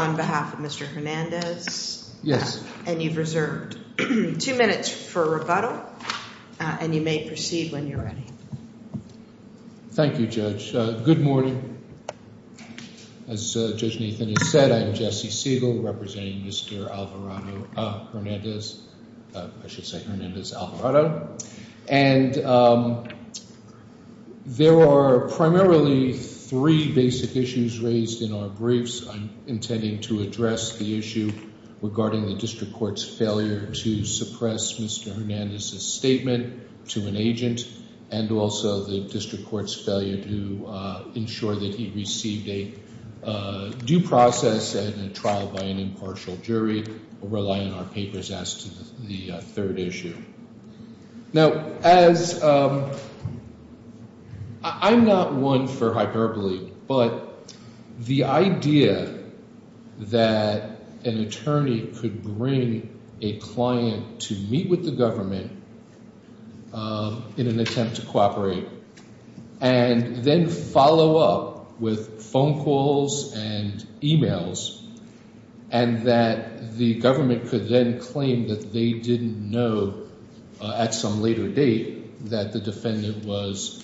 on behalf of Mr. Hernandez. Yes. And you've reserved two minutes for rebuttal and you may proceed when you're ready. Thank you Judge. Good morning. As Judge Nathan has said, I'm Jesse Siegel representing Mr. Alvarado Hernandez. I should say Hernandez Alvarado. And there are primarily three basic issues raised in our briefs. I'm intending to address the issue regarding the District Court's failure to suppress Mr. Hernandez's statement to an agent and also the District Court's failure to ensure that he received a due process and a trial by an impartial jury. We rely on our papers as to the third issue. Now, as I'm not one for hyperbole, but the idea that an attorney could bring a client to meet with the government in an attempt to cooperate and then follow up with phone calls and emails and that the government could then claim that they didn't know at some later date that the defendant was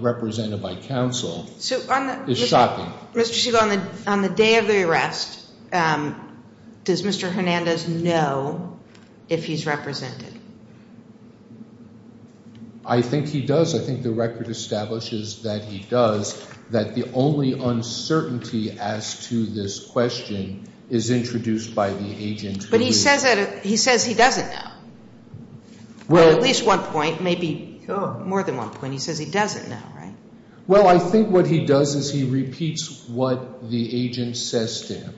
represented by counsel is shocking. Mr. Siegel, on the day of the arrest, does Mr. Hernandez's testimony. The only uncertainty as to this question is introduced by the agent. But he says he doesn't know. At least one point, maybe more than one point. He says he doesn't know. Well, I think what he does is he repeats what the agent says to him.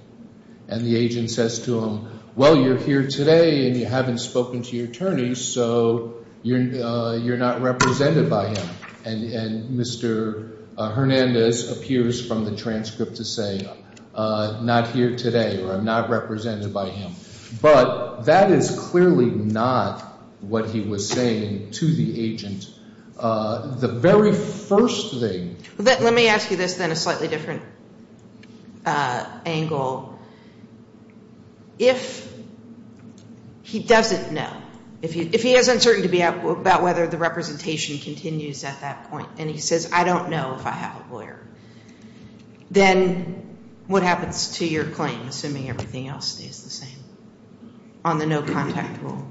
And the agent says to him, well, you're here today and you haven't spoken to your attorney, so you're not represented by him. And Mr. Hernandez appears from the transcript to say, not here today or I'm not represented by him. But that is clearly not what he was saying to the agent. The very first thing. Let me ask you this then, a slightly different angle. If he doesn't know, if he is uncertain about whether the representation continues at that point and he says, I don't know if I have a lawyer, then what happens to your claim, assuming everything else is the same on the no-contact rule?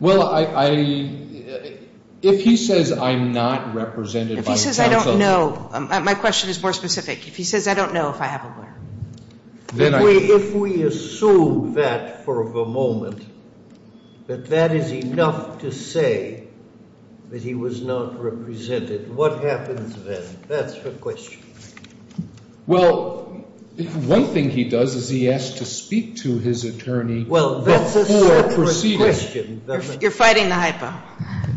Well, if he says I'm not represented by the counsel. If he says I don't know, my question is more specific. If he says I don't know if I have a lawyer. If we assume that for the moment, that that is enough to say that he was not represented, what happens then? That's the question. Well, one thing he does is he asks to speak to his attorney before proceeding. You're fighting the hypo.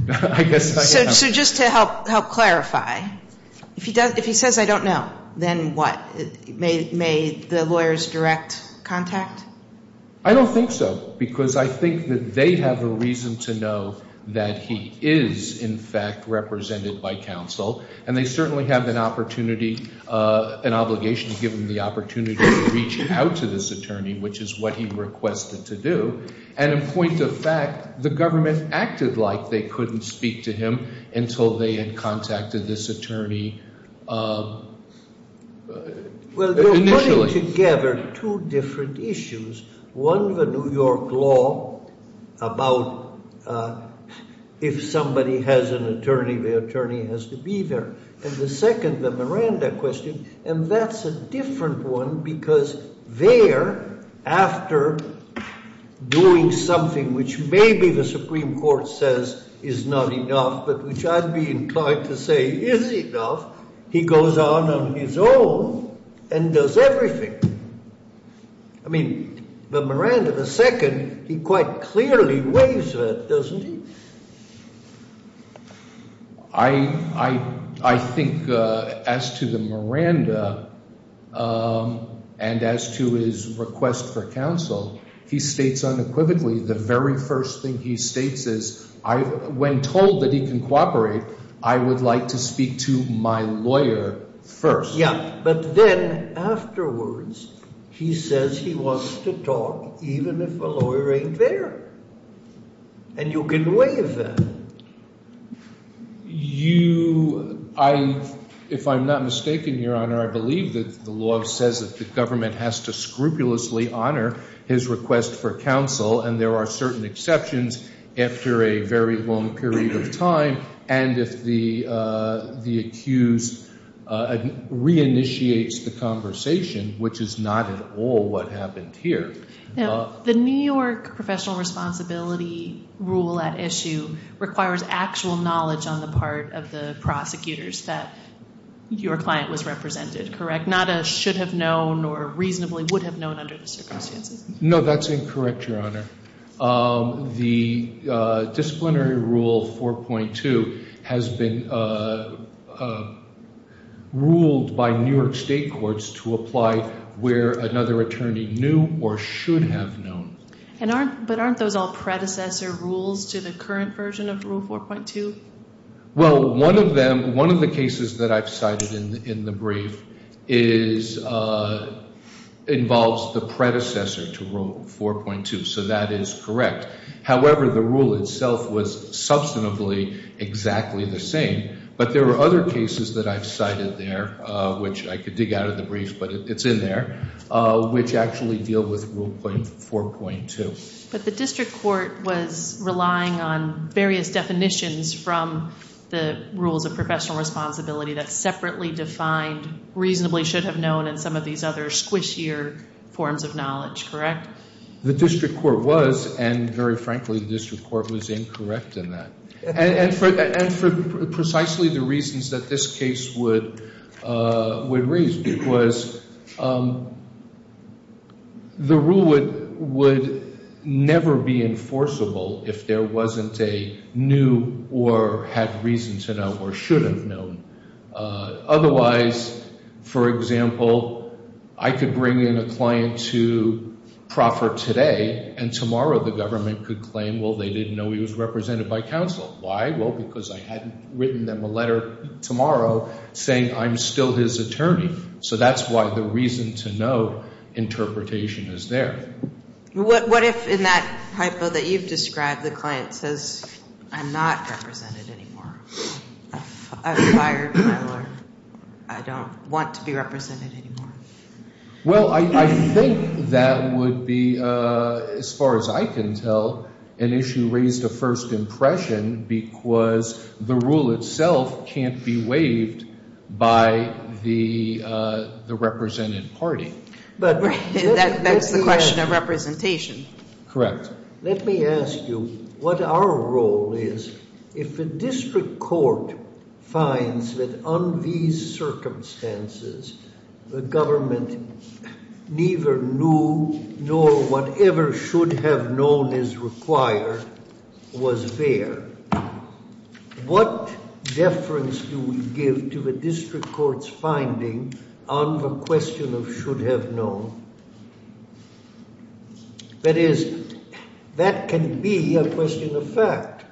I guess I am. So just to help clarify, if he says I don't know, then what? May the lawyers direct contact? I don't think so, because I think that they have a reason to know that he is, in fact, represented by counsel. And they certainly have an opportunity, an obligation to give him the opportunity to reach out to this attorney, which is what he requested to do. And in point of fact, the government acted like they couldn't speak to him until they had contacted this attorney. Well, they're putting together two different issues. One, the New York law about if somebody has an attorney, the attorney has to be there. And the second, the Miranda question, and that's a different one because there, after doing something which maybe the Supreme Court says is not enough, but which I'd be inclined to say is enough, he goes on on his own and does everything. I mean, the Miranda, the second, he quite clearly weighs that, doesn't he? I think as to the Miranda and as to his request for counsel, he states unequivocally the very first thing he states is when told that he can cooperate, I would like to speak to my lawyer first. But then afterwards, he says he wants to talk even if a lawyer ain't there. And you can weigh that. You – if I'm not mistaken, Your Honor, I believe that the law says that the government has to scrupulously honor his request for counsel. And there are certain exceptions after a very long period of time. And if the accused re-initiates the conversation, which is not at all what happened here. Now, the New York professional responsibility rule at issue requires actual knowledge on the part of the prosecutors that your client was represented, correct? Not a should have known or reasonably would have known under the circumstances. No, that's incorrect, Your Honor. The disciplinary rule 4.2 has been ruled by New York state courts to apply where another attorney knew or should have known. But aren't those all predecessor rules to the current version of rule 4.2? Well, one of them – one of the cases that I've cited in the brief is – involves the predecessor to rule 4.2. So that is correct. However, the rule itself was substantively exactly the same. But there were other cases that I've cited there, which I could dig out of the brief, but it's in there, which actually deal with rule 4.2. But the district court was relying on various definitions from the rules of professional responsibility that separately defined reasonably should have known and some of these other squishier forms of knowledge, correct? The district court was, and very frankly, the district court was incorrect in that. And for precisely the reasons that this case would raise was the rule would never be enforceable if there wasn't a new or had reason to know or should have known. Otherwise, for example, I could bring in a client to proffer today and tomorrow the government could claim, well, they didn't know he was represented by counsel. Why? Well, because I hadn't written them a letter tomorrow saying I'm still his attorney. So that's why the reason to know interpretation is there. What if in that hypo that you've described, the client says I'm not represented anymore? I'm a fire peddler. I don't want to be represented anymore. Well, I think that would be, as far as I can tell, an issue raised a first impression because the rule itself can't be waived by the represented party. That's the question of representation. Correct. Let me ask you what our role is. If the district court finds that on these circumstances the government neither knew nor whatever should have known is required was there, what deference do we give to the district court's finding on the question of should have known? That is, that can be a question of fact.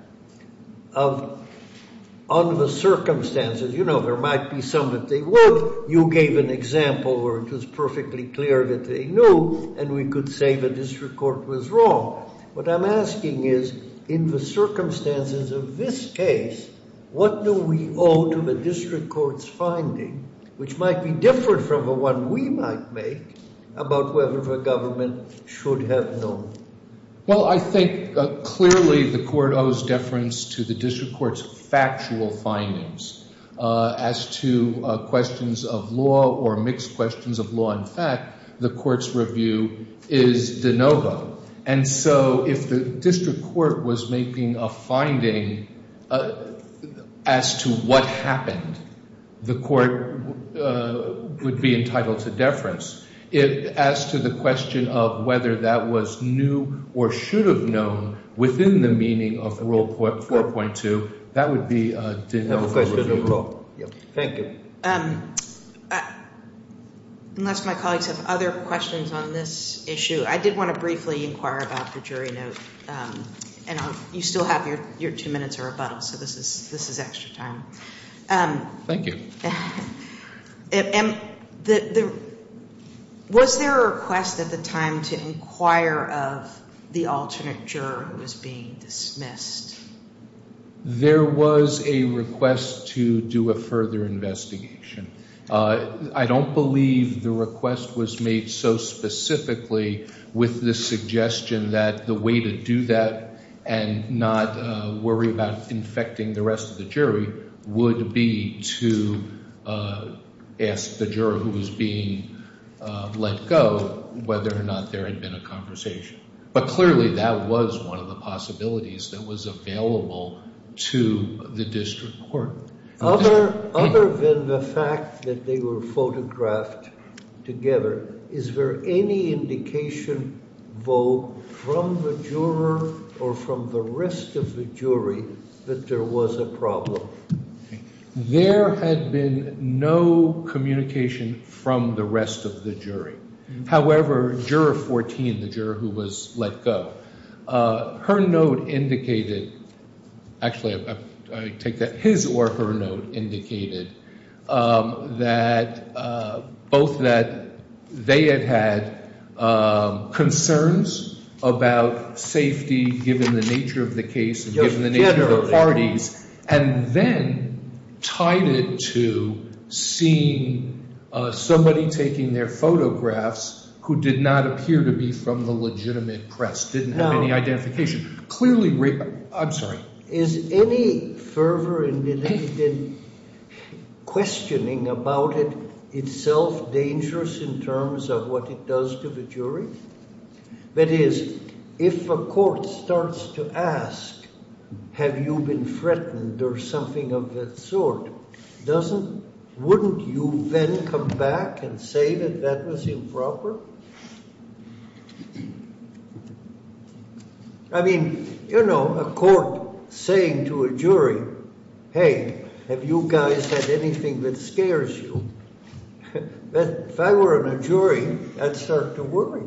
On the circumstances, you know, there might be some that they would. You gave an example where it was perfectly clear that they knew and we could say the district court was wrong. What I'm asking is, in the circumstances of this case, what do we owe to the district court's finding, which might be different from the one we might make, about whether the government should have known? Well, I think clearly the court owes deference to the district court's factual findings. As to questions of law or mixed questions of law and fact, the court's review is de novo. And so if the district court was making a finding as to what happened, the court would be entitled to deference. As to the question of whether that was new or should have known within the meaning of Rule 4.2, that would be de novo. Thank you. Unless my colleagues have other questions on this issue, I did want to briefly inquire about the jury note. And you still have your two minutes or rebuttal, so this is extra time. Thank you. Was there a request at the time to inquire of the alternate juror who was being dismissed? There was a request to do a further investigation. I don't believe the request was made so specifically with the suggestion that the way to do that and not worry about infecting the rest of the jury would be to ask the juror who was being let go whether or not there had been a conversation. But clearly that was one of the possibilities that was available to the district court. Other than the fact that they were photographed together, is there any indication, though, from the juror or from the rest of the jury that there was a problem? There had been no communication from the rest of the jury. However, Juror 14, the juror who was let go, her note indicated, actually, I take that his or her note indicated that both that they had had concerns about safety given the nature of the case and given the nature of the parties. And then tied it to seeing somebody taking their photographs who did not appear to be from the legitimate press, didn't have any identification. Is any fervor in the questioning about it itself dangerous in terms of what it does to the jury? That is, if a court starts to ask, have you been threatened or something of that sort, wouldn't you then come back and say that that was improper? I mean, you know, a court saying to a jury, hey, have you guys had anything that scares you? If I were in a jury, I'd start to worry.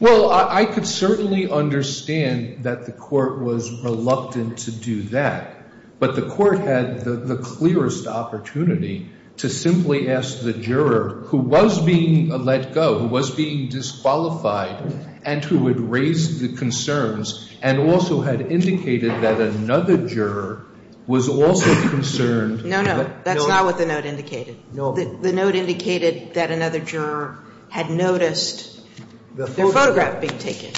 Well, I could certainly understand that the court was reluctant to do that. But the court had the clearest opportunity to simply ask the juror who was being let go, who was being disqualified, and who had raised the concerns and also had indicated that another juror was also concerned. No, no. That's not what the note indicated. The note indicated that another juror had noticed their photograph being taken.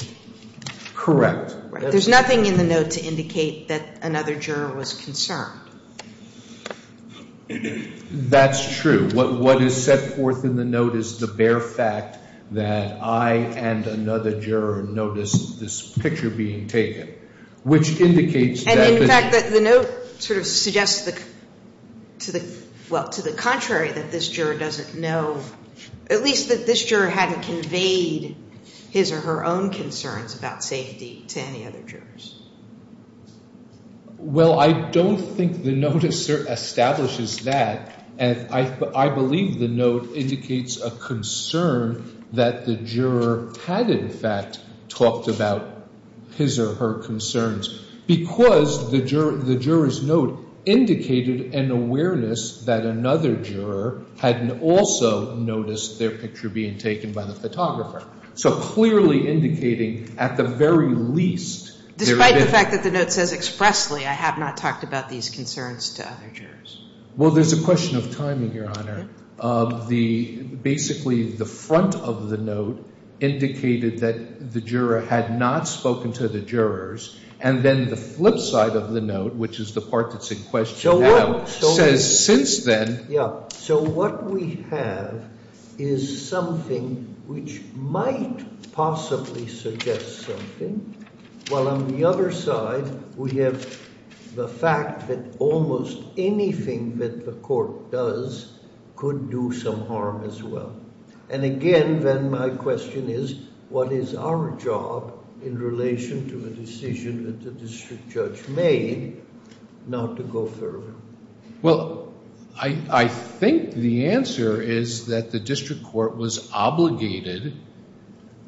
Correct. There's nothing in the note to indicate that another juror was concerned. That's true. What is set forth in the note is the bare fact that I and another juror noticed this picture being taken, which indicates that the juror was concerned. Well, to the contrary, that this juror doesn't know, at least that this juror hadn't conveyed his or her own concerns about safety to any other jurors. Well, I don't think the note establishes that. I believe the note indicates a concern that the juror had, in fact, talked about his or her concerns because the juror's note indicated an awareness that another juror hadn't also noticed their picture being taken by the photographer. So clearly indicating at the very least there had been — Despite the fact that the note says expressly, I have not talked about these concerns to other jurors. Well, there's a question of timing, Your Honor. Basically, the front of the note indicated that the juror had not spoken to the jurors, and then the flip side of the note, which is the part that's in question now, says since then —— which might possibly suggest something, while on the other side we have the fact that almost anything that the court does could do some harm as well. And again, then my question is, what is our job in relation to the decision that the district judge made not to go further? Well, I think the answer is that the district court was obligated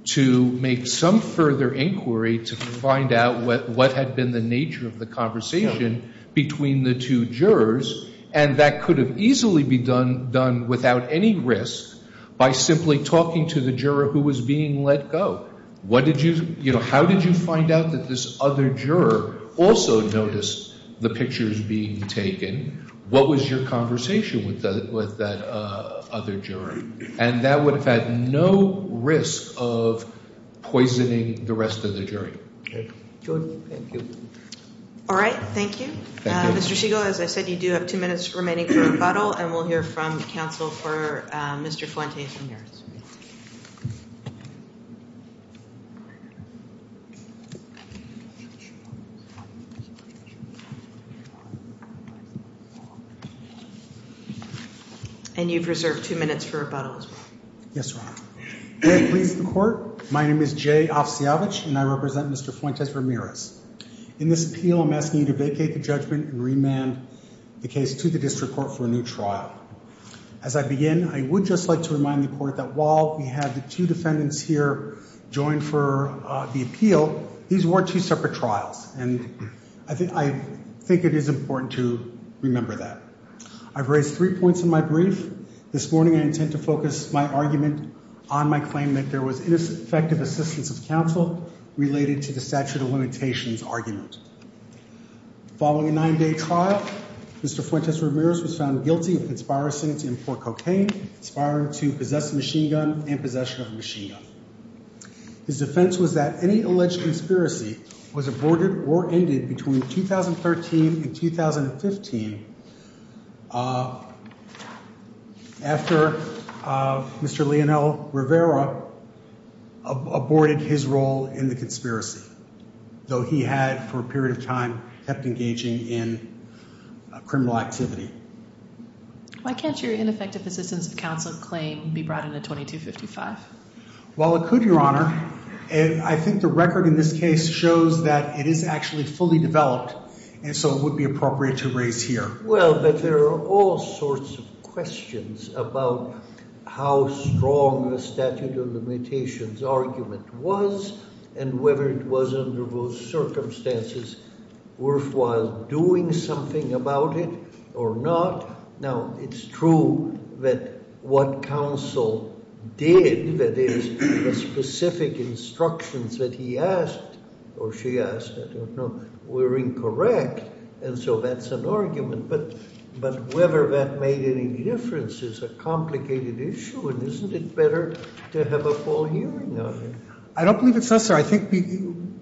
to make some further inquiry to find out what had been the nature of the conversation between the two jurors, and that could have easily been done without any risk by simply talking to the juror who was being let go. How did you find out that this other juror also noticed the pictures being taken? What was your conversation with that other juror? And that would have had no risk of poisoning the rest of the jury. Jordan, thank you. All right. Thank you. Thank you. Mr. Segal, as I said, you do have two minutes remaining for rebuttal, and we'll hear from counsel for Mr. Fuentes and yours. And you've reserved two minutes for rebuttal as well. Yes, Your Honor. Good evening to the court. My name is Jay Offsiavich, and I represent Mr. Fuentes-Ramirez. In this appeal, I'm asking you to vacate the judgment and remand the case to the district court for a new trial. As I begin, I would just like to remind the court that while we have the two defendants here, joined for the appeal, these were two separate trials, and I think it is important to remember that. I've raised three points in my brief. This morning, I intend to focus my argument on my claim that there was ineffective assistance of counsel related to the statute of limitations argument. Following a nine-day trial, Mr. Fuentes-Ramirez was found guilty of conspiring to import cocaine, conspiring to possess a machine gun, and possession of a machine gun. His defense was that any alleged conspiracy was aborted or ended between 2013 and 2015 after Mr. Leonel Rivera aborted his role in the conspiracy, though he had, for a period of time, kept engaging in criminal activity. Why can't your ineffective assistance of counsel claim be brought into 2255? Well, it could, Your Honor. I think the record in this case shows that it is actually fully developed, and so it would be appropriate to raise here. Well, but there are all sorts of questions about how strong the statute of limitations argument was and whether it was, under those circumstances, worthwhile doing something about it or not. Now, it's true that what counsel did, that is, the specific instructions that he asked or she asked, I don't know, were incorrect, and so that's an argument, but whether that made any difference is a complicated issue, and isn't it better to have a full hearing on it? I don't believe it's necessary. I think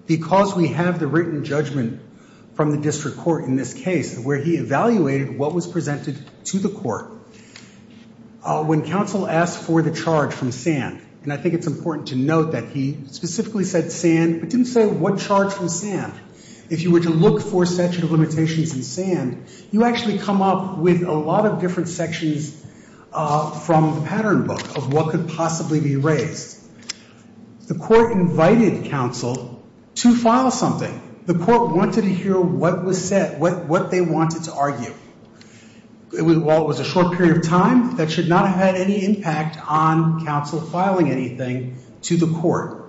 because we have the written judgment from the district court in this case where he evaluated what was presented to the court, when counsel asked for the charge from Sand, and I think it's important to note that he specifically said Sand, but didn't say what charge from Sand. If you were to look for statute of limitations in Sand, you actually come up with a lot of different sections from the pattern book of what could possibly be raised. The court invited counsel to file something. The court wanted to hear what was said, what they wanted to argue. While it was a short period of time, that should not have had any impact on counsel filing anything to the court.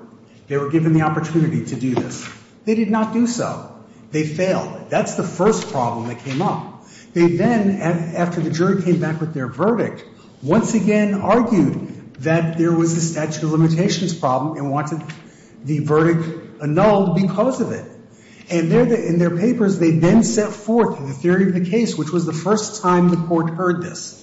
They were given the opportunity to do this. They did not do so. They failed. That's the first problem that came up. They then, after the jury came back with their verdict, once again argued that there was a statute of limitations problem and wanted the verdict annulled because of it. And in their papers, they then set forth the theory of the case, which was the first time the court heard this.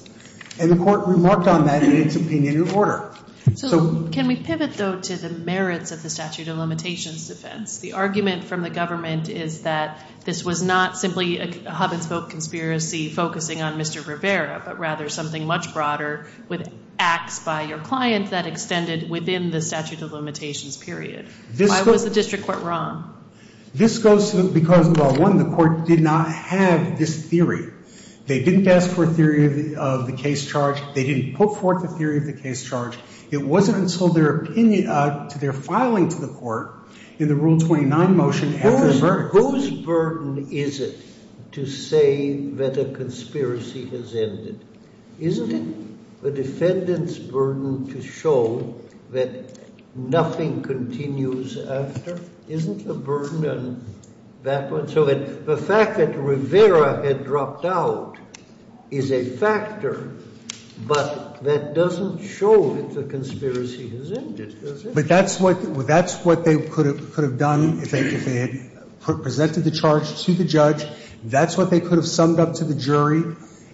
And the court remarked on that in its opinion in order. So can we pivot, though, to the merits of the statute of limitations defense? The argument from the government is that this was not simply a hub-and-spoke conspiracy focusing on Mr. Rivera, but rather something much broader with acts by your client that extended within the statute of limitations period. Why was the district court wrong? This goes to because, well, one, the court did not have this theory. They didn't ask for a theory of the case charge. They didn't put forth a theory of the case charge. It wasn't until their opinion to their filing to the court in the Rule 29 motion after the verdict. So what burden is it to say that a conspiracy has ended? Isn't it the defendant's burden to show that nothing continues after? Isn't the burden on that one? So the fact that Rivera had dropped out is a factor, but that doesn't show that the conspiracy has ended, does it? But that's what they could have done if they had presented the charge to the judge. That's what they could have summed up to the jury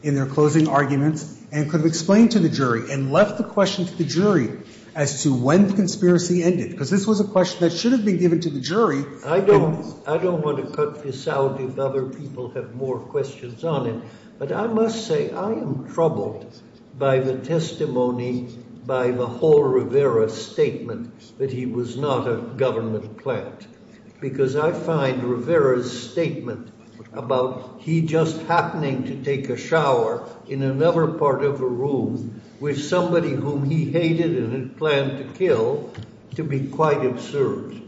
in their closing arguments and could have explained to the jury and left the question to the jury as to when the conspiracy ended, because this was a question that should have been given to the jury. I don't want to cut this out if other people have more questions on it, but I must say I am troubled by the testimony, by the whole Rivera statement that he was not a government plant, because I find Rivera's statement about he just happening to take a shower in another part of a room with somebody whom he hated and had planned to kill to be quite absurd.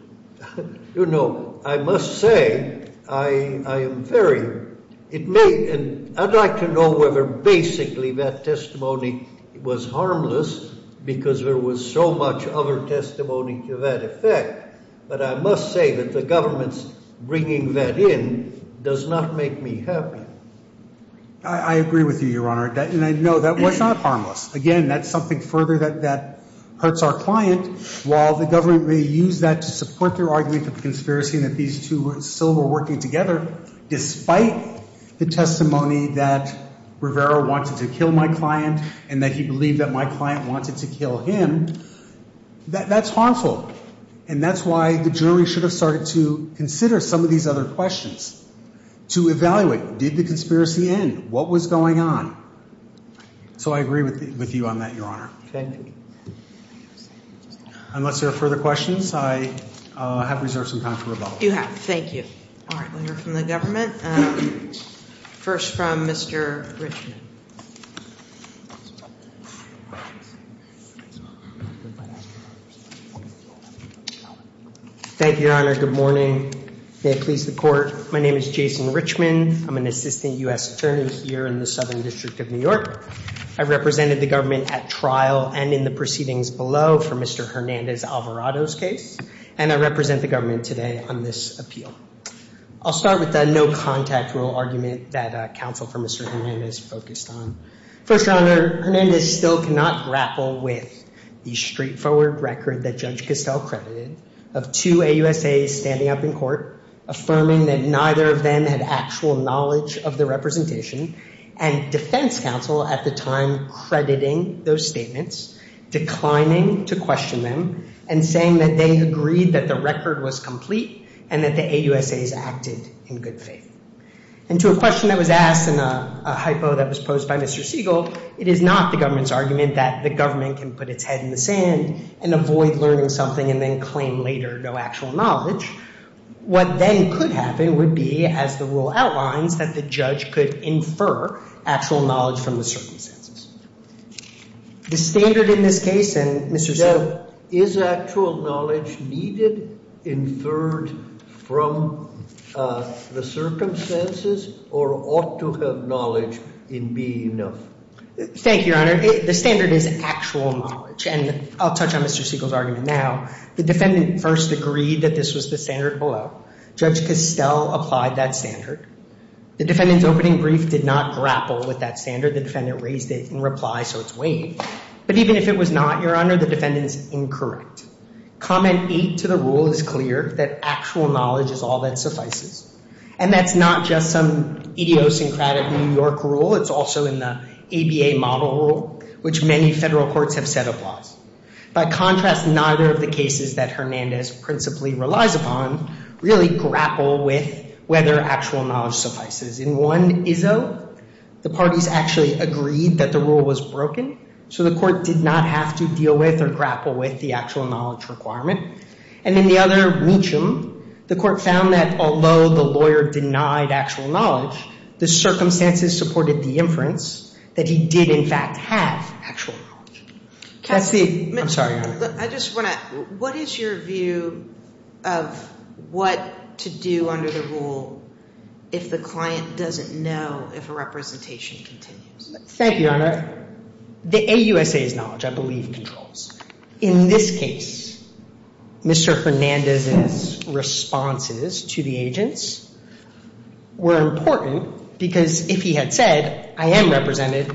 You know, I must say I am very, it may, and I'd like to know whether basically that testimony was harmless because there was so much other testimony to that effect, but I must say that the government's bringing that in does not make me happy. I agree with you, Your Honor, and I know that was not harmless. Again, that's something further that hurts our client. While the government may use that to support their argument of conspiracy and that these two still were working together, despite the testimony that Rivera wanted to kill my client and that he believed that my client wanted to kill him, that's harmful, and that's why the jury should have started to consider some of these other questions, to evaluate, did the conspiracy end? What was going on? So I agree with you on that, Your Honor. Thank you. Unless there are further questions, I have reserved some time for rebuttal. You have. Thank you. All right, we'll hear from the government. First from Mr. Richman. Thank you, Your Honor. Good morning. May it please the Court. My name is Jason Richman. I'm an assistant U.S. attorney here in the Southern District of New York. I represented the government at trial and in the proceedings below for Mr. Hernandez-Alvarado's case, and I represent the government today on this appeal. I'll start with the no-contact rule argument that counsel for Mr. Hernandez focused on. First, Your Honor, Hernandez still cannot grapple with the straightforward record that Judge Costell credited of two AUSAs standing up in court, affirming that neither of them had actual knowledge of the representation, and defense counsel at the time crediting those statements, declining to question them, and saying that they agreed that the record was complete and that the AUSAs acted in good faith. And to a question that was asked and a hypo that was posed by Mr. Siegel, it is not the government's argument that the government can put its head in the sand and avoid learning something and then claim later no actual knowledge. What then could happen would be, as the rule outlines, that the judge could infer actual knowledge from the circumstances. The standard in this case, and Mr. Siegel. Is actual knowledge needed, inferred from the circumstances, or ought to have knowledge in B, no? Thank you, Your Honor. The standard is actual knowledge, and I'll touch on Mr. Siegel's argument now. The defendant first agreed that this was the standard below. Judge Costell applied that standard. The defendant's opening brief did not grapple with that standard. The defendant raised it in reply, so it's waived. But even if it was not, Your Honor, the defendant is incorrect. Comment eight to the rule is clear, that actual knowledge is all that suffices. And that's not just some idiosyncratic New York rule. It's also in the ABA model rule, which many federal courts have set up laws. By contrast, neither of the cases that Hernandez principally relies upon really grapple with whether actual knowledge suffices. In one, Izzo, the parties actually agreed that the rule was broken, so the court did not have to deal with or grapple with the actual knowledge requirement. And in the other, Meacham, the court found that although the lawyer denied actual knowledge, the circumstances supported the inference that he did, in fact, have actual knowledge. I'm sorry, Your Honor. I just want to ask, what is your view of what to do under the rule if the client doesn't know if a representation continues? Thank you, Your Honor. The AUSA's knowledge, I believe, controls. In this case, Mr. Hernandez's responses to the agents were important because if he had said, I am represented,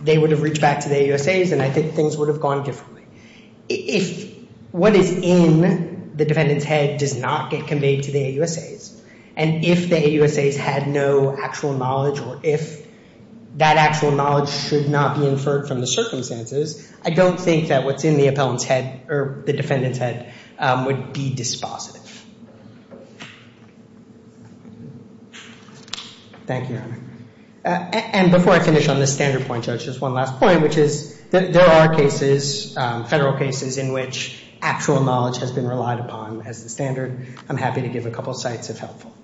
they would have reached back to the AUSA's and I think things would have gone differently. If what is in the defendant's head does not get conveyed to the AUSA's and if the AUSA's had no actual knowledge or if that actual knowledge should not be inferred from the circumstances, I don't think that what's in the defendant's head would be dispositive. Thank you, Your Honor. And before I finish on this standard point, Judge, just one last point, which is that there are cases, federal cases, in which actual knowledge has been relied upon as the standard. I'm happy to give a couple sites if helpful.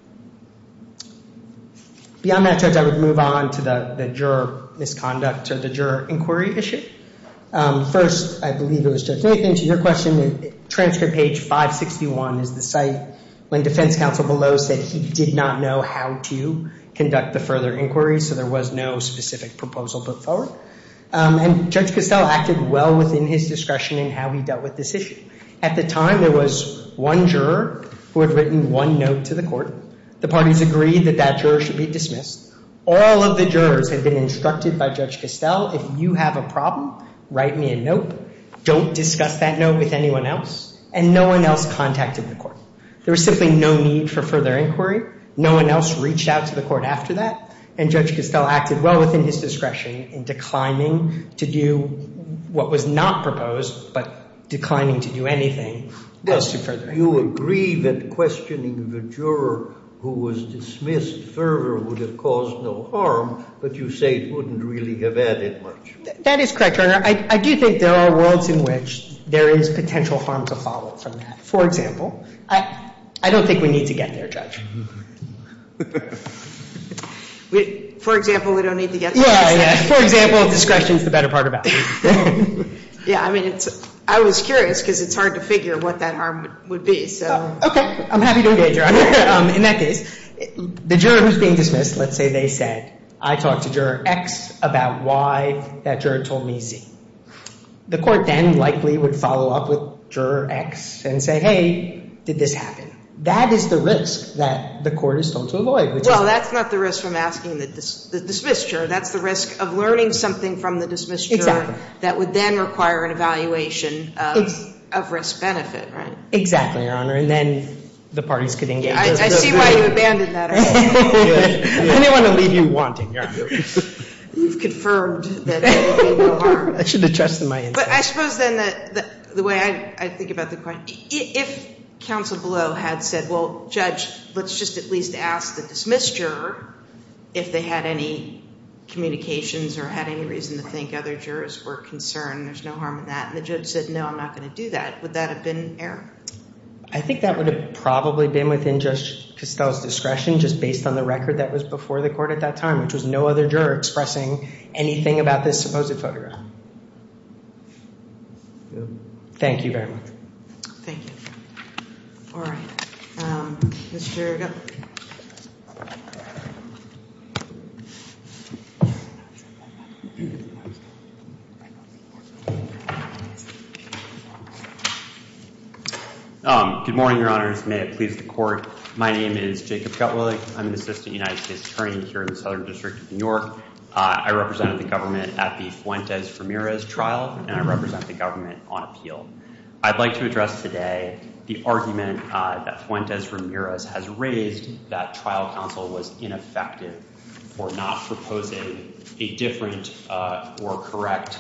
Beyond that, Judge, I would move on to the juror misconduct or the juror inquiry issue. First, I believe it was Judge Nathan, to your question, transcript page 561 is the site when defense counsel below said he did not know how to conduct the further inquiry, so there was no specific proposal put forward. And Judge Castell acted well within his discretion in how he dealt with this issue. At the time, there was one juror who had written one note to the court. The parties agreed that that juror should be dismissed. All of the jurors had been instructed by Judge Castell, if you have a problem, write me a note. Don't discuss that note with anyone else. And no one else contacted the court. There was simply no need for further inquiry. No one else reached out to the court after that. And Judge Castell acted well within his discretion in declining to do what was not proposed but declining to do anything else to further inquiry. You agree that questioning the juror who was dismissed further would have caused no harm, but you say it wouldn't really have added much. That is correct, Your Honor. I do think there are worlds in which there is potential harm to follow from that. For example, I don't think we need to get there, Judge. For example, we don't need to get there. Yeah, yeah. For example, discretion is the better part of that. Yeah, I mean, I was curious because it's hard to figure what that harm would be, so. Okay. I'm happy to engage, Your Honor. In that case, the juror who's being dismissed, let's say they said, I talked to Juror X about why that juror told me Z. The court then likely would follow up with Juror X and say, hey, did this happen? That is the risk that the court is told to avoid. Well, that's not the risk I'm asking the dismissed juror. That's the risk of learning something from the dismissed juror. Exactly. That would then require an evaluation of risk-benefit, right? Exactly, Your Honor. And then the parties could engage. I see why you abandoned that argument. I didn't want to leave you wanting, Your Honor. You've confirmed that there would be no harm. I should have trusted my instinct. But I suppose then the way I think about the question, if counsel below had said, well, Judge, let's just at least ask the dismissed juror if they had any communications or had any reason to think other jurors were concerned, there's no harm in that, and the judge said, no, I'm not going to do that. Would that have been an error? I think that would have probably been within Judge Costell's discretion, just based on the record that was before the court at that time, which was no other juror expressing anything about this supposed photograph. Thank you very much. Thank you. All right. Mr. Gutwillig. Good morning, Your Honors. May it please the Court. My name is Jacob Gutwillig. I'm an assistant United States attorney here in the Southern District of New York. I represented the government at the Fuentes-Ramirez trial, and I represent the government on appeal. I'd like to address today the argument that Fuentes-Ramirez has raised that trial counsel was ineffective for not proposing a different or correct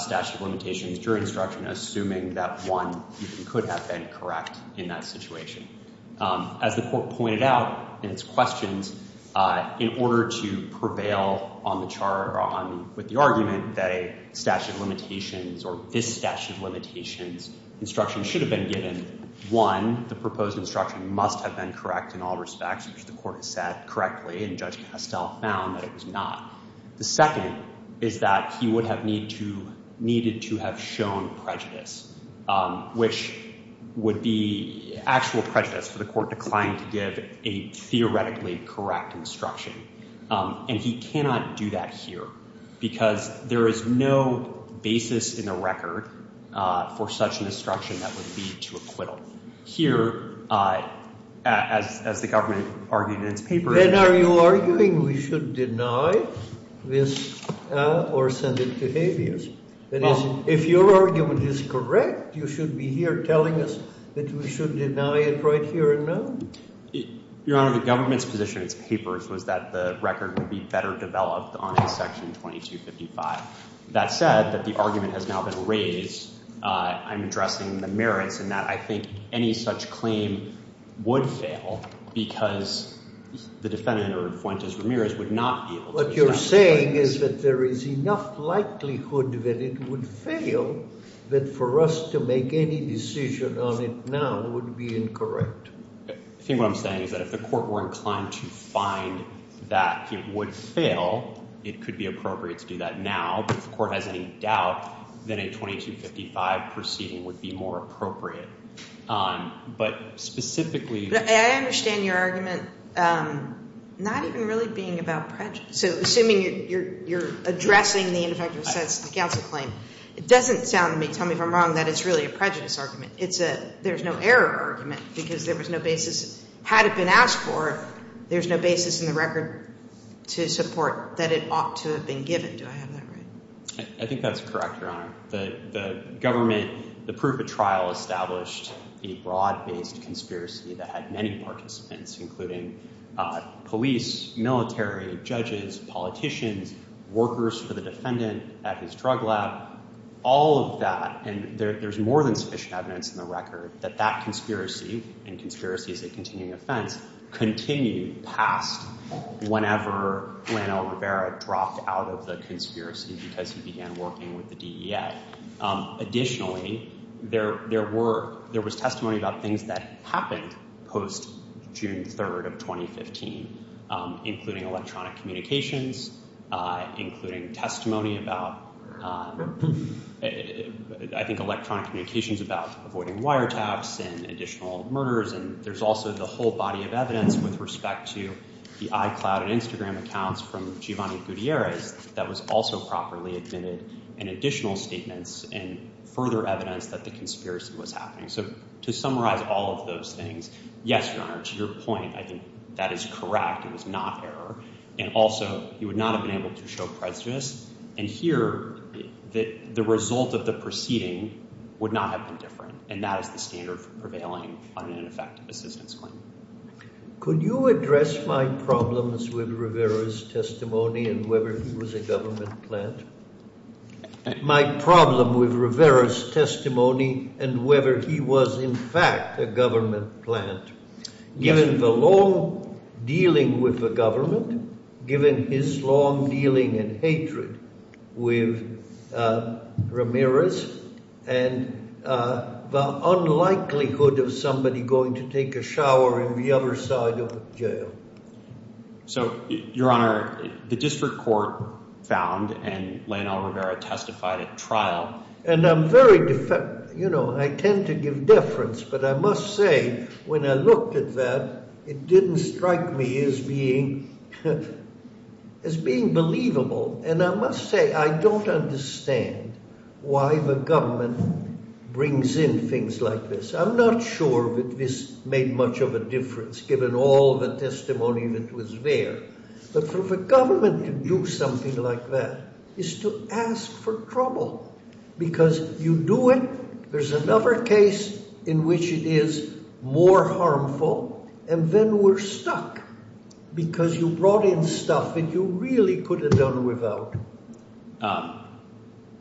statute of limitations during instruction, assuming that one could have been correct in that situation. As the Court pointed out in its questions, in order to prevail on the chart with the argument that a statute of limitations or this statute of limitations instruction should have been given, one, the proposed instruction must have been correct in all respects, which the Court has said correctly, and Judge Costell found that it was not. The second is that he would have needed to have shown prejudice, which would be actual prejudice for the Court to decline to give a theoretically correct instruction. And he cannot do that here because there is no basis in the record for such an instruction that would lead to acquittal. Here, as the government argued in its papers— Then are you arguing we should deny this or send it to habeas? That is, if your argument is correct, you should be here telling us that we should deny it right here and now? Your Honor, the government's position in its papers was that the record would be better developed on a section 2255. That said, that the argument has now been raised. I'm addressing the merits in that I think any such claim would fail because the defendant or Fuentes-Ramirez would not be able to— What you're saying is that there is enough likelihood that it would fail that for us to make any decision on it now would be incorrect. I think what I'm saying is that if the Court were inclined to find that it would fail, it could be appropriate to do that now, but if the Court has any doubt, then a 2255 proceeding would be more appropriate. But specifically— I understand your argument not even really being about prejudice. So assuming you're addressing the ineffective assessment of the counsel claim, it doesn't tell me if I'm wrong that it's really a prejudice argument. There's no error argument because there was no basis. Had it been asked for, there's no basis in the record to support that it ought to have been given. Do I have that right? I think that's correct, Your Honor. The government, the proof of trial established a broad-based conspiracy that had many participants, including police, military, judges, politicians, workers for the defendant at his drug lab, all of that. And there's more than sufficient evidence in the record that that conspiracy, and conspiracy is a continuing offense, continued past whenever Lanell Rivera dropped out of the conspiracy because he began working with the DEA. Additionally, there was testimony about things that happened post-June 3rd of 2015, including electronic communications, including testimony about, I think electronic communications about avoiding wiretaps and additional murders. And there's also the whole body of evidence with respect to the iCloud and Instagram accounts from Giovanni Gutierrez that was also properly admitted and additional statements and further evidence that the conspiracy was happening. So to summarize all of those things, yes, Your Honor, to your point, I think that is correct, it was not error, and also he would not have been able to show prejudice, and here the result of the proceeding would not have been different, and that is the standard for prevailing on an ineffective assistance claim. Could you address my problems with Rivera's testimony and whether he was a government plant? My problem with Rivera's testimony and whether he was in fact a government plant, given the long dealing with the government, given his long dealing and hatred with Ramirez, and the unlikelihood of somebody going to take a shower in the other side of jail. So, Your Honor, the district court found and Lionel Rivera testified at trial. And I'm very, you know, I tend to give deference, but I must say when I looked at that, it didn't strike me as being believable, and I must say I don't understand why the government brings in things like this. I'm not sure that this made much of a difference given all the testimony that was there, but for the government to do something like that is to ask for trouble, because you do it, there's another case in which it is more harmful, and then we're stuck because you brought in stuff that you really could have done without.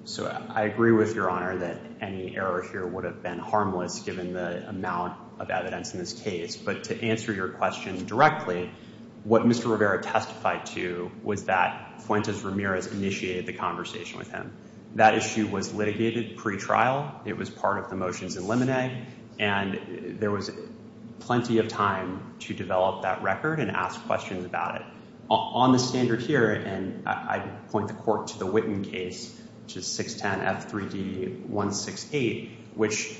So I agree with Your Honor that any error here would have been harmless given the amount of evidence in this case. But to answer your question directly, what Mr. Rivera testified to was that Fuentes Ramirez initiated the conversation with him. That issue was litigated pretrial. It was part of the motions in limine, and there was plenty of time to develop that record and ask questions about it. On the standard here, and I point the court to the Witten case, which is 610 F3D 168, which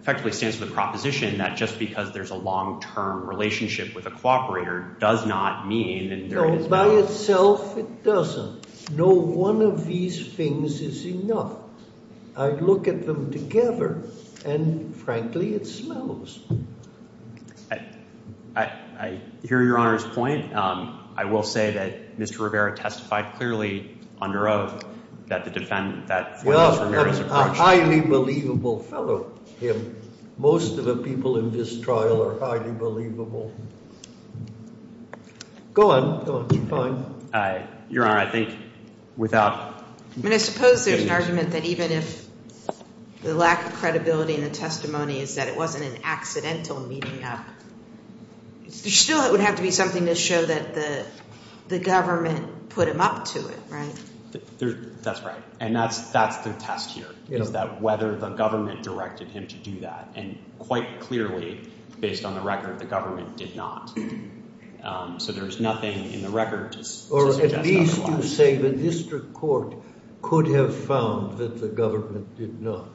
effectively stands for the proposition that just because there's a long-term relationship with a cooperator does not mean. No, by itself it doesn't. No one of these things is enough. I look at them together, and frankly, it smells. I hear Your Honor's point. I will say that Mr. Rivera testified clearly on your oath that the defendant that Fuentes Ramirez approached. A highly believable fellow, him. Most of the people in this trial are highly believable. Go on. Go on. It's fine. Your Honor, I think without. I mean, I suppose there's an argument that even if the lack of credibility in the testimony is that it wasn't an accidental meeting up, there still would have to be something to show that the government put him up to it, right? That's right, and that's the test here, is that whether the government directed him to do that, and quite clearly, based on the record, the government did not. So there's nothing in the record to suggest that's not a lie. Or at least to say the district court could have found that the government did not.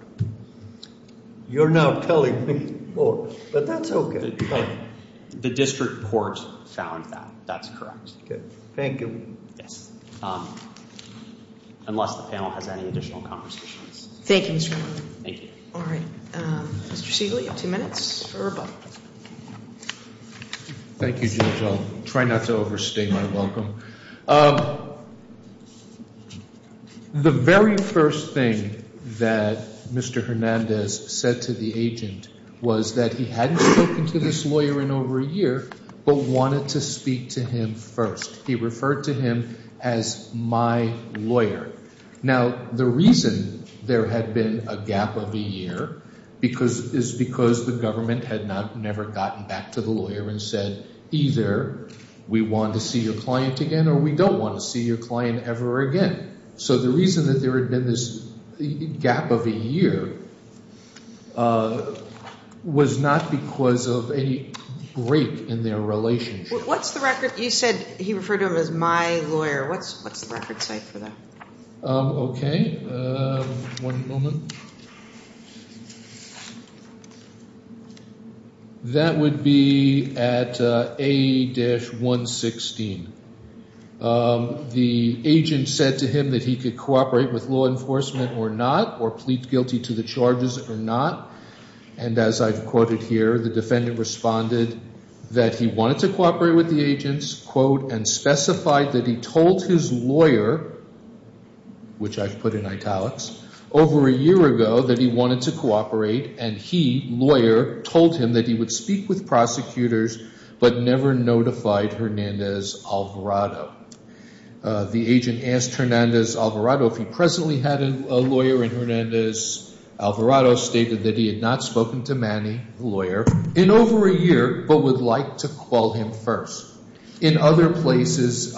You're now telling me more, but that's okay. The district court found that. That's correct. Okay. Thank you. Yes. Unless the panel has any additional conversations. Thank you, Mr. Miller. Thank you. All right. Mr. Siegel, you have two minutes for rebuttal. Thank you, Judge. I'll try not to overstay my welcome. The very first thing that Mr. Hernandez said to the agent was that he hadn't spoken to this lawyer in over a year, but wanted to speak to him first. He referred to him as my lawyer. Now, the reason there had been a gap of a year is because the government had never gotten back to the lawyer and said either we want to see your client again or we don't want to see your client ever again. So the reason that there had been this gap of a year was not because of any break in their relationship. You said he referred to him as my lawyer. What's the record say for that? Okay. One moment. That would be at A-116. The agent said to him that he could cooperate with law enforcement or not or plead guilty to the charges or not. And as I've quoted here, the defendant responded that he wanted to cooperate with the agents and specified that he told his lawyer, which I've put in italics, over a year ago that he wanted to cooperate and he, lawyer, told him that he would speak with prosecutors but never notified Hernandez-Alvarado. The agent asked Hernandez-Alvarado if he presently had a lawyer and Hernandez-Alvarado stated that he had not spoken to Manny, the lawyer, in over a year but would like to call him first. In other places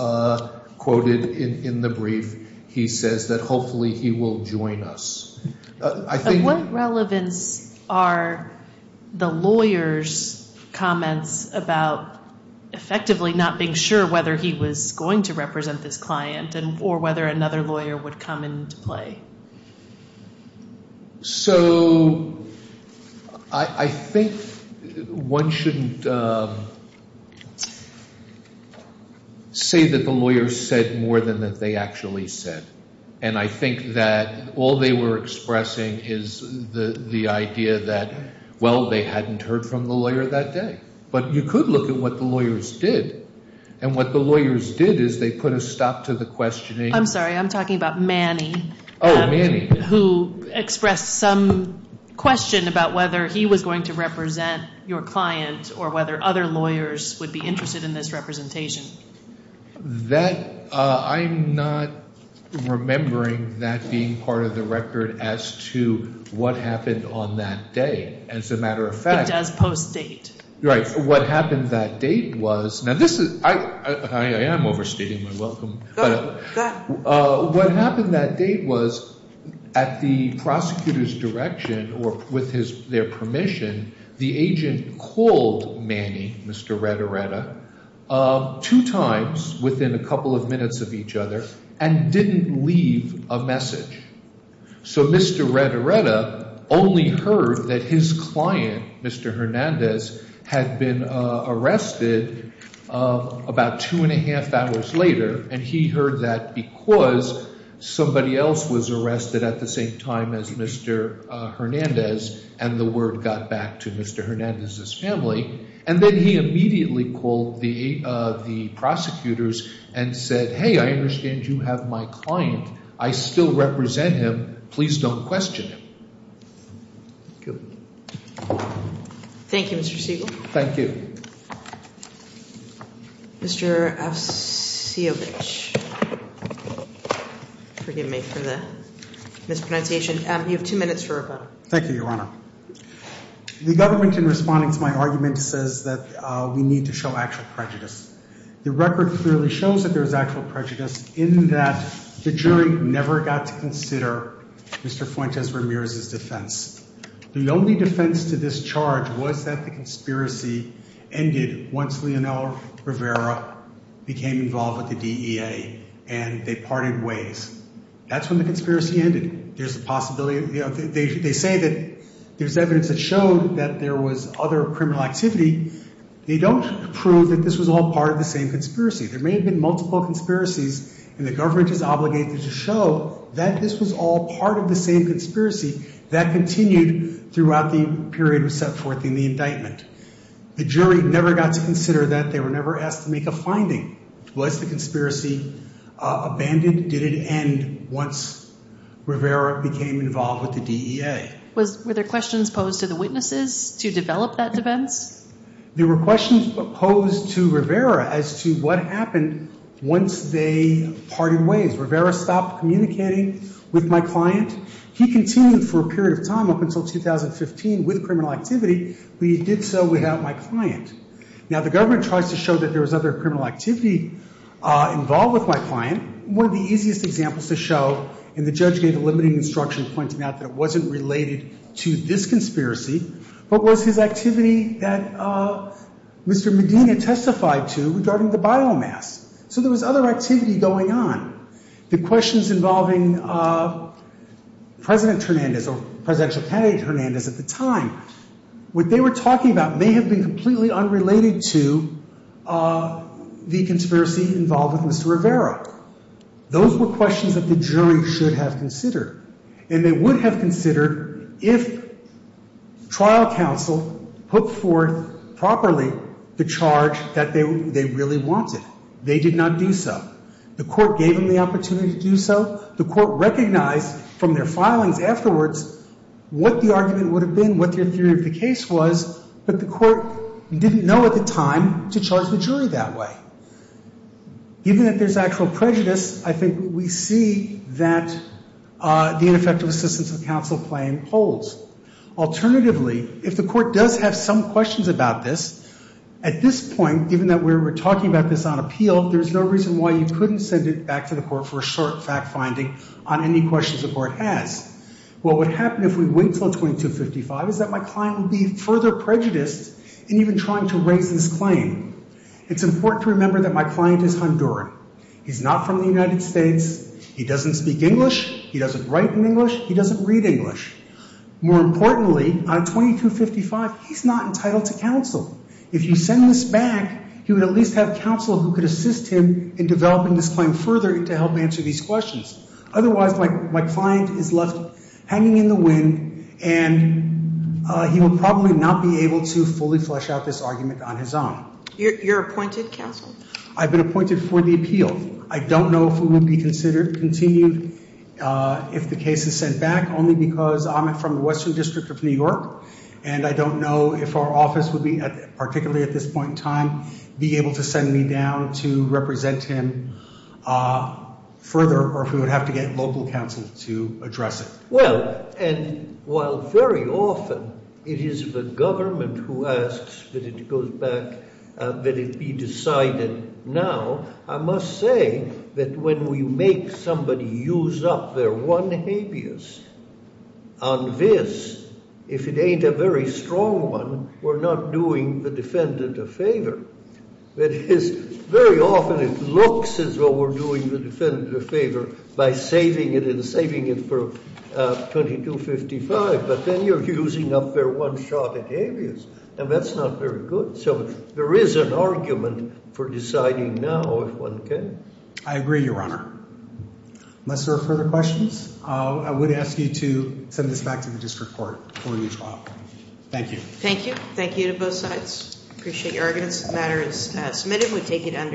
quoted in the brief, he says that hopefully he will join us. What relevance are the lawyer's comments about effectively not being sure whether he was going to represent this client or whether another lawyer would come into play? So I think one shouldn't say that the lawyer said more than that they actually said. And I think that all they were expressing is the idea that, well, they hadn't heard from the lawyer that day. But you could look at what the lawyers did. And what the lawyers did is they put a stop to the questioning. I'm sorry. I'm talking about Manny. Oh, Manny. Who expressed some question about whether he was going to represent your client or whether other lawyers would be interested in this representation. That, I'm not remembering that being part of the record as to what happened on that day. As a matter of fact. It does post-date. Right. What happened that date was, now this is, I am overstating my welcome. Go ahead. What happened that date was at the prosecutor's direction or with their permission, the agent called Manny, Mr. Red Areta, two times within a couple of minutes of each other and didn't leave a message. So Mr. Red Areta only heard that his client, Mr. Hernandez, had been arrested about two and a half hours later and he heard that because somebody else was arrested at the same time as Mr. Hernandez and the word got back to Mr. Hernandez's family. And then he immediately called the prosecutors and said, hey, I understand you have my client. I still represent him. Please don't question him. Thank you, Mr. Siegel. Thank you. Mr. Afsiovic, forgive me for the mispronunciation. You have two minutes for a vote. Thank you, Your Honor. The government in responding to my argument says that we need to show actual prejudice. The record clearly shows that there is actual prejudice in that the jury never got to consider Mr. Fuentes Ramirez's defense. The only defense to this charge was that the conspiracy ended once Leonel Rivera became involved with the DEA and they parted ways. That's when the conspiracy ended. There's a possibility, you know, they say that there's evidence that showed that there was other criminal activity. They don't prove that this was all part of the same conspiracy. There may have been multiple conspiracies, and the government is obligated to show that this was all part of the same conspiracy that continued throughout the period set forth in the indictment. The jury never got to consider that. They were never asked to make a finding. Was the conspiracy abandoned? Did it end once Rivera became involved with the DEA? Were there questions posed to the witnesses to develop that defense? There were questions posed to Rivera as to what happened once they parted ways. Rivera stopped communicating with my client. He continued for a period of time up until 2015 with criminal activity, but he did so without my client. Now, the government tries to show that there was other criminal activity involved with my client. One of the easiest examples to show, and the judge gave a limiting instruction pointing out that it wasn't related to this conspiracy, but was his activity that Mr. Medina testified to regarding the biomass. So there was other activity going on. The questions involving President Hernandez or presidential candidate Hernandez at the time, what they were talking about may have been completely unrelated to the conspiracy involved with Mr. Rivera. Those were questions that the jury should have considered, and they would have considered if trial counsel put forth properly the charge that they really wanted. They did not do so. The court gave them the opportunity to do so. The court recognized from their filings afterwards what the argument would have been, what their theory of the case was, but the court didn't know at the time to charge the jury that way. Given that there's actual prejudice, I think we see that the ineffective assistance of counsel claim holds. Alternatively, if the court does have some questions about this, at this point, given that we're talking about this on appeal, there's no reason why you couldn't send it back to the court for a short fact finding on any questions the court has. What would happen if we wait until 2255 is that my client would be further prejudiced in even trying to raise this claim. It's important to remember that my client is Honduran. He's not from the United States. He doesn't speak English. He doesn't write in English. He doesn't read English. More importantly, on 2255, he's not entitled to counsel. If you send this back, he would at least have counsel who could assist him in developing this claim further to help answer these questions. Otherwise, my client is left hanging in the wind, and he will probably not be able to fully flesh out this argument on his own. You're appointed counsel? I've been appointed for the appeal. I don't know if we would be continued if the case is sent back, only because I'm from the Western District of New York, and I don't know if our office would be, particularly at this point in time, be able to send me down to represent him further or if we would have to get local counsel to address it. Well, and while very often it is the government who asks that it goes back, that it be decided now, I must say that when we make somebody use up their one habeas on this, if it ain't a very strong one, we're not doing the defendant a favor. That is, very often it looks as though we're doing the defendant a favor by saving it and saving it for 2255, but then you're using up their one shot at habeas, and that's not very good. So there is an argument for deciding now if one can. I agree, Your Honor. Unless there are further questions, I would ask you to send this back to the district court for a new trial. Thank you. Thank you. Thank you to both sides. Appreciate your arguments. The matter is submitted. We take it under.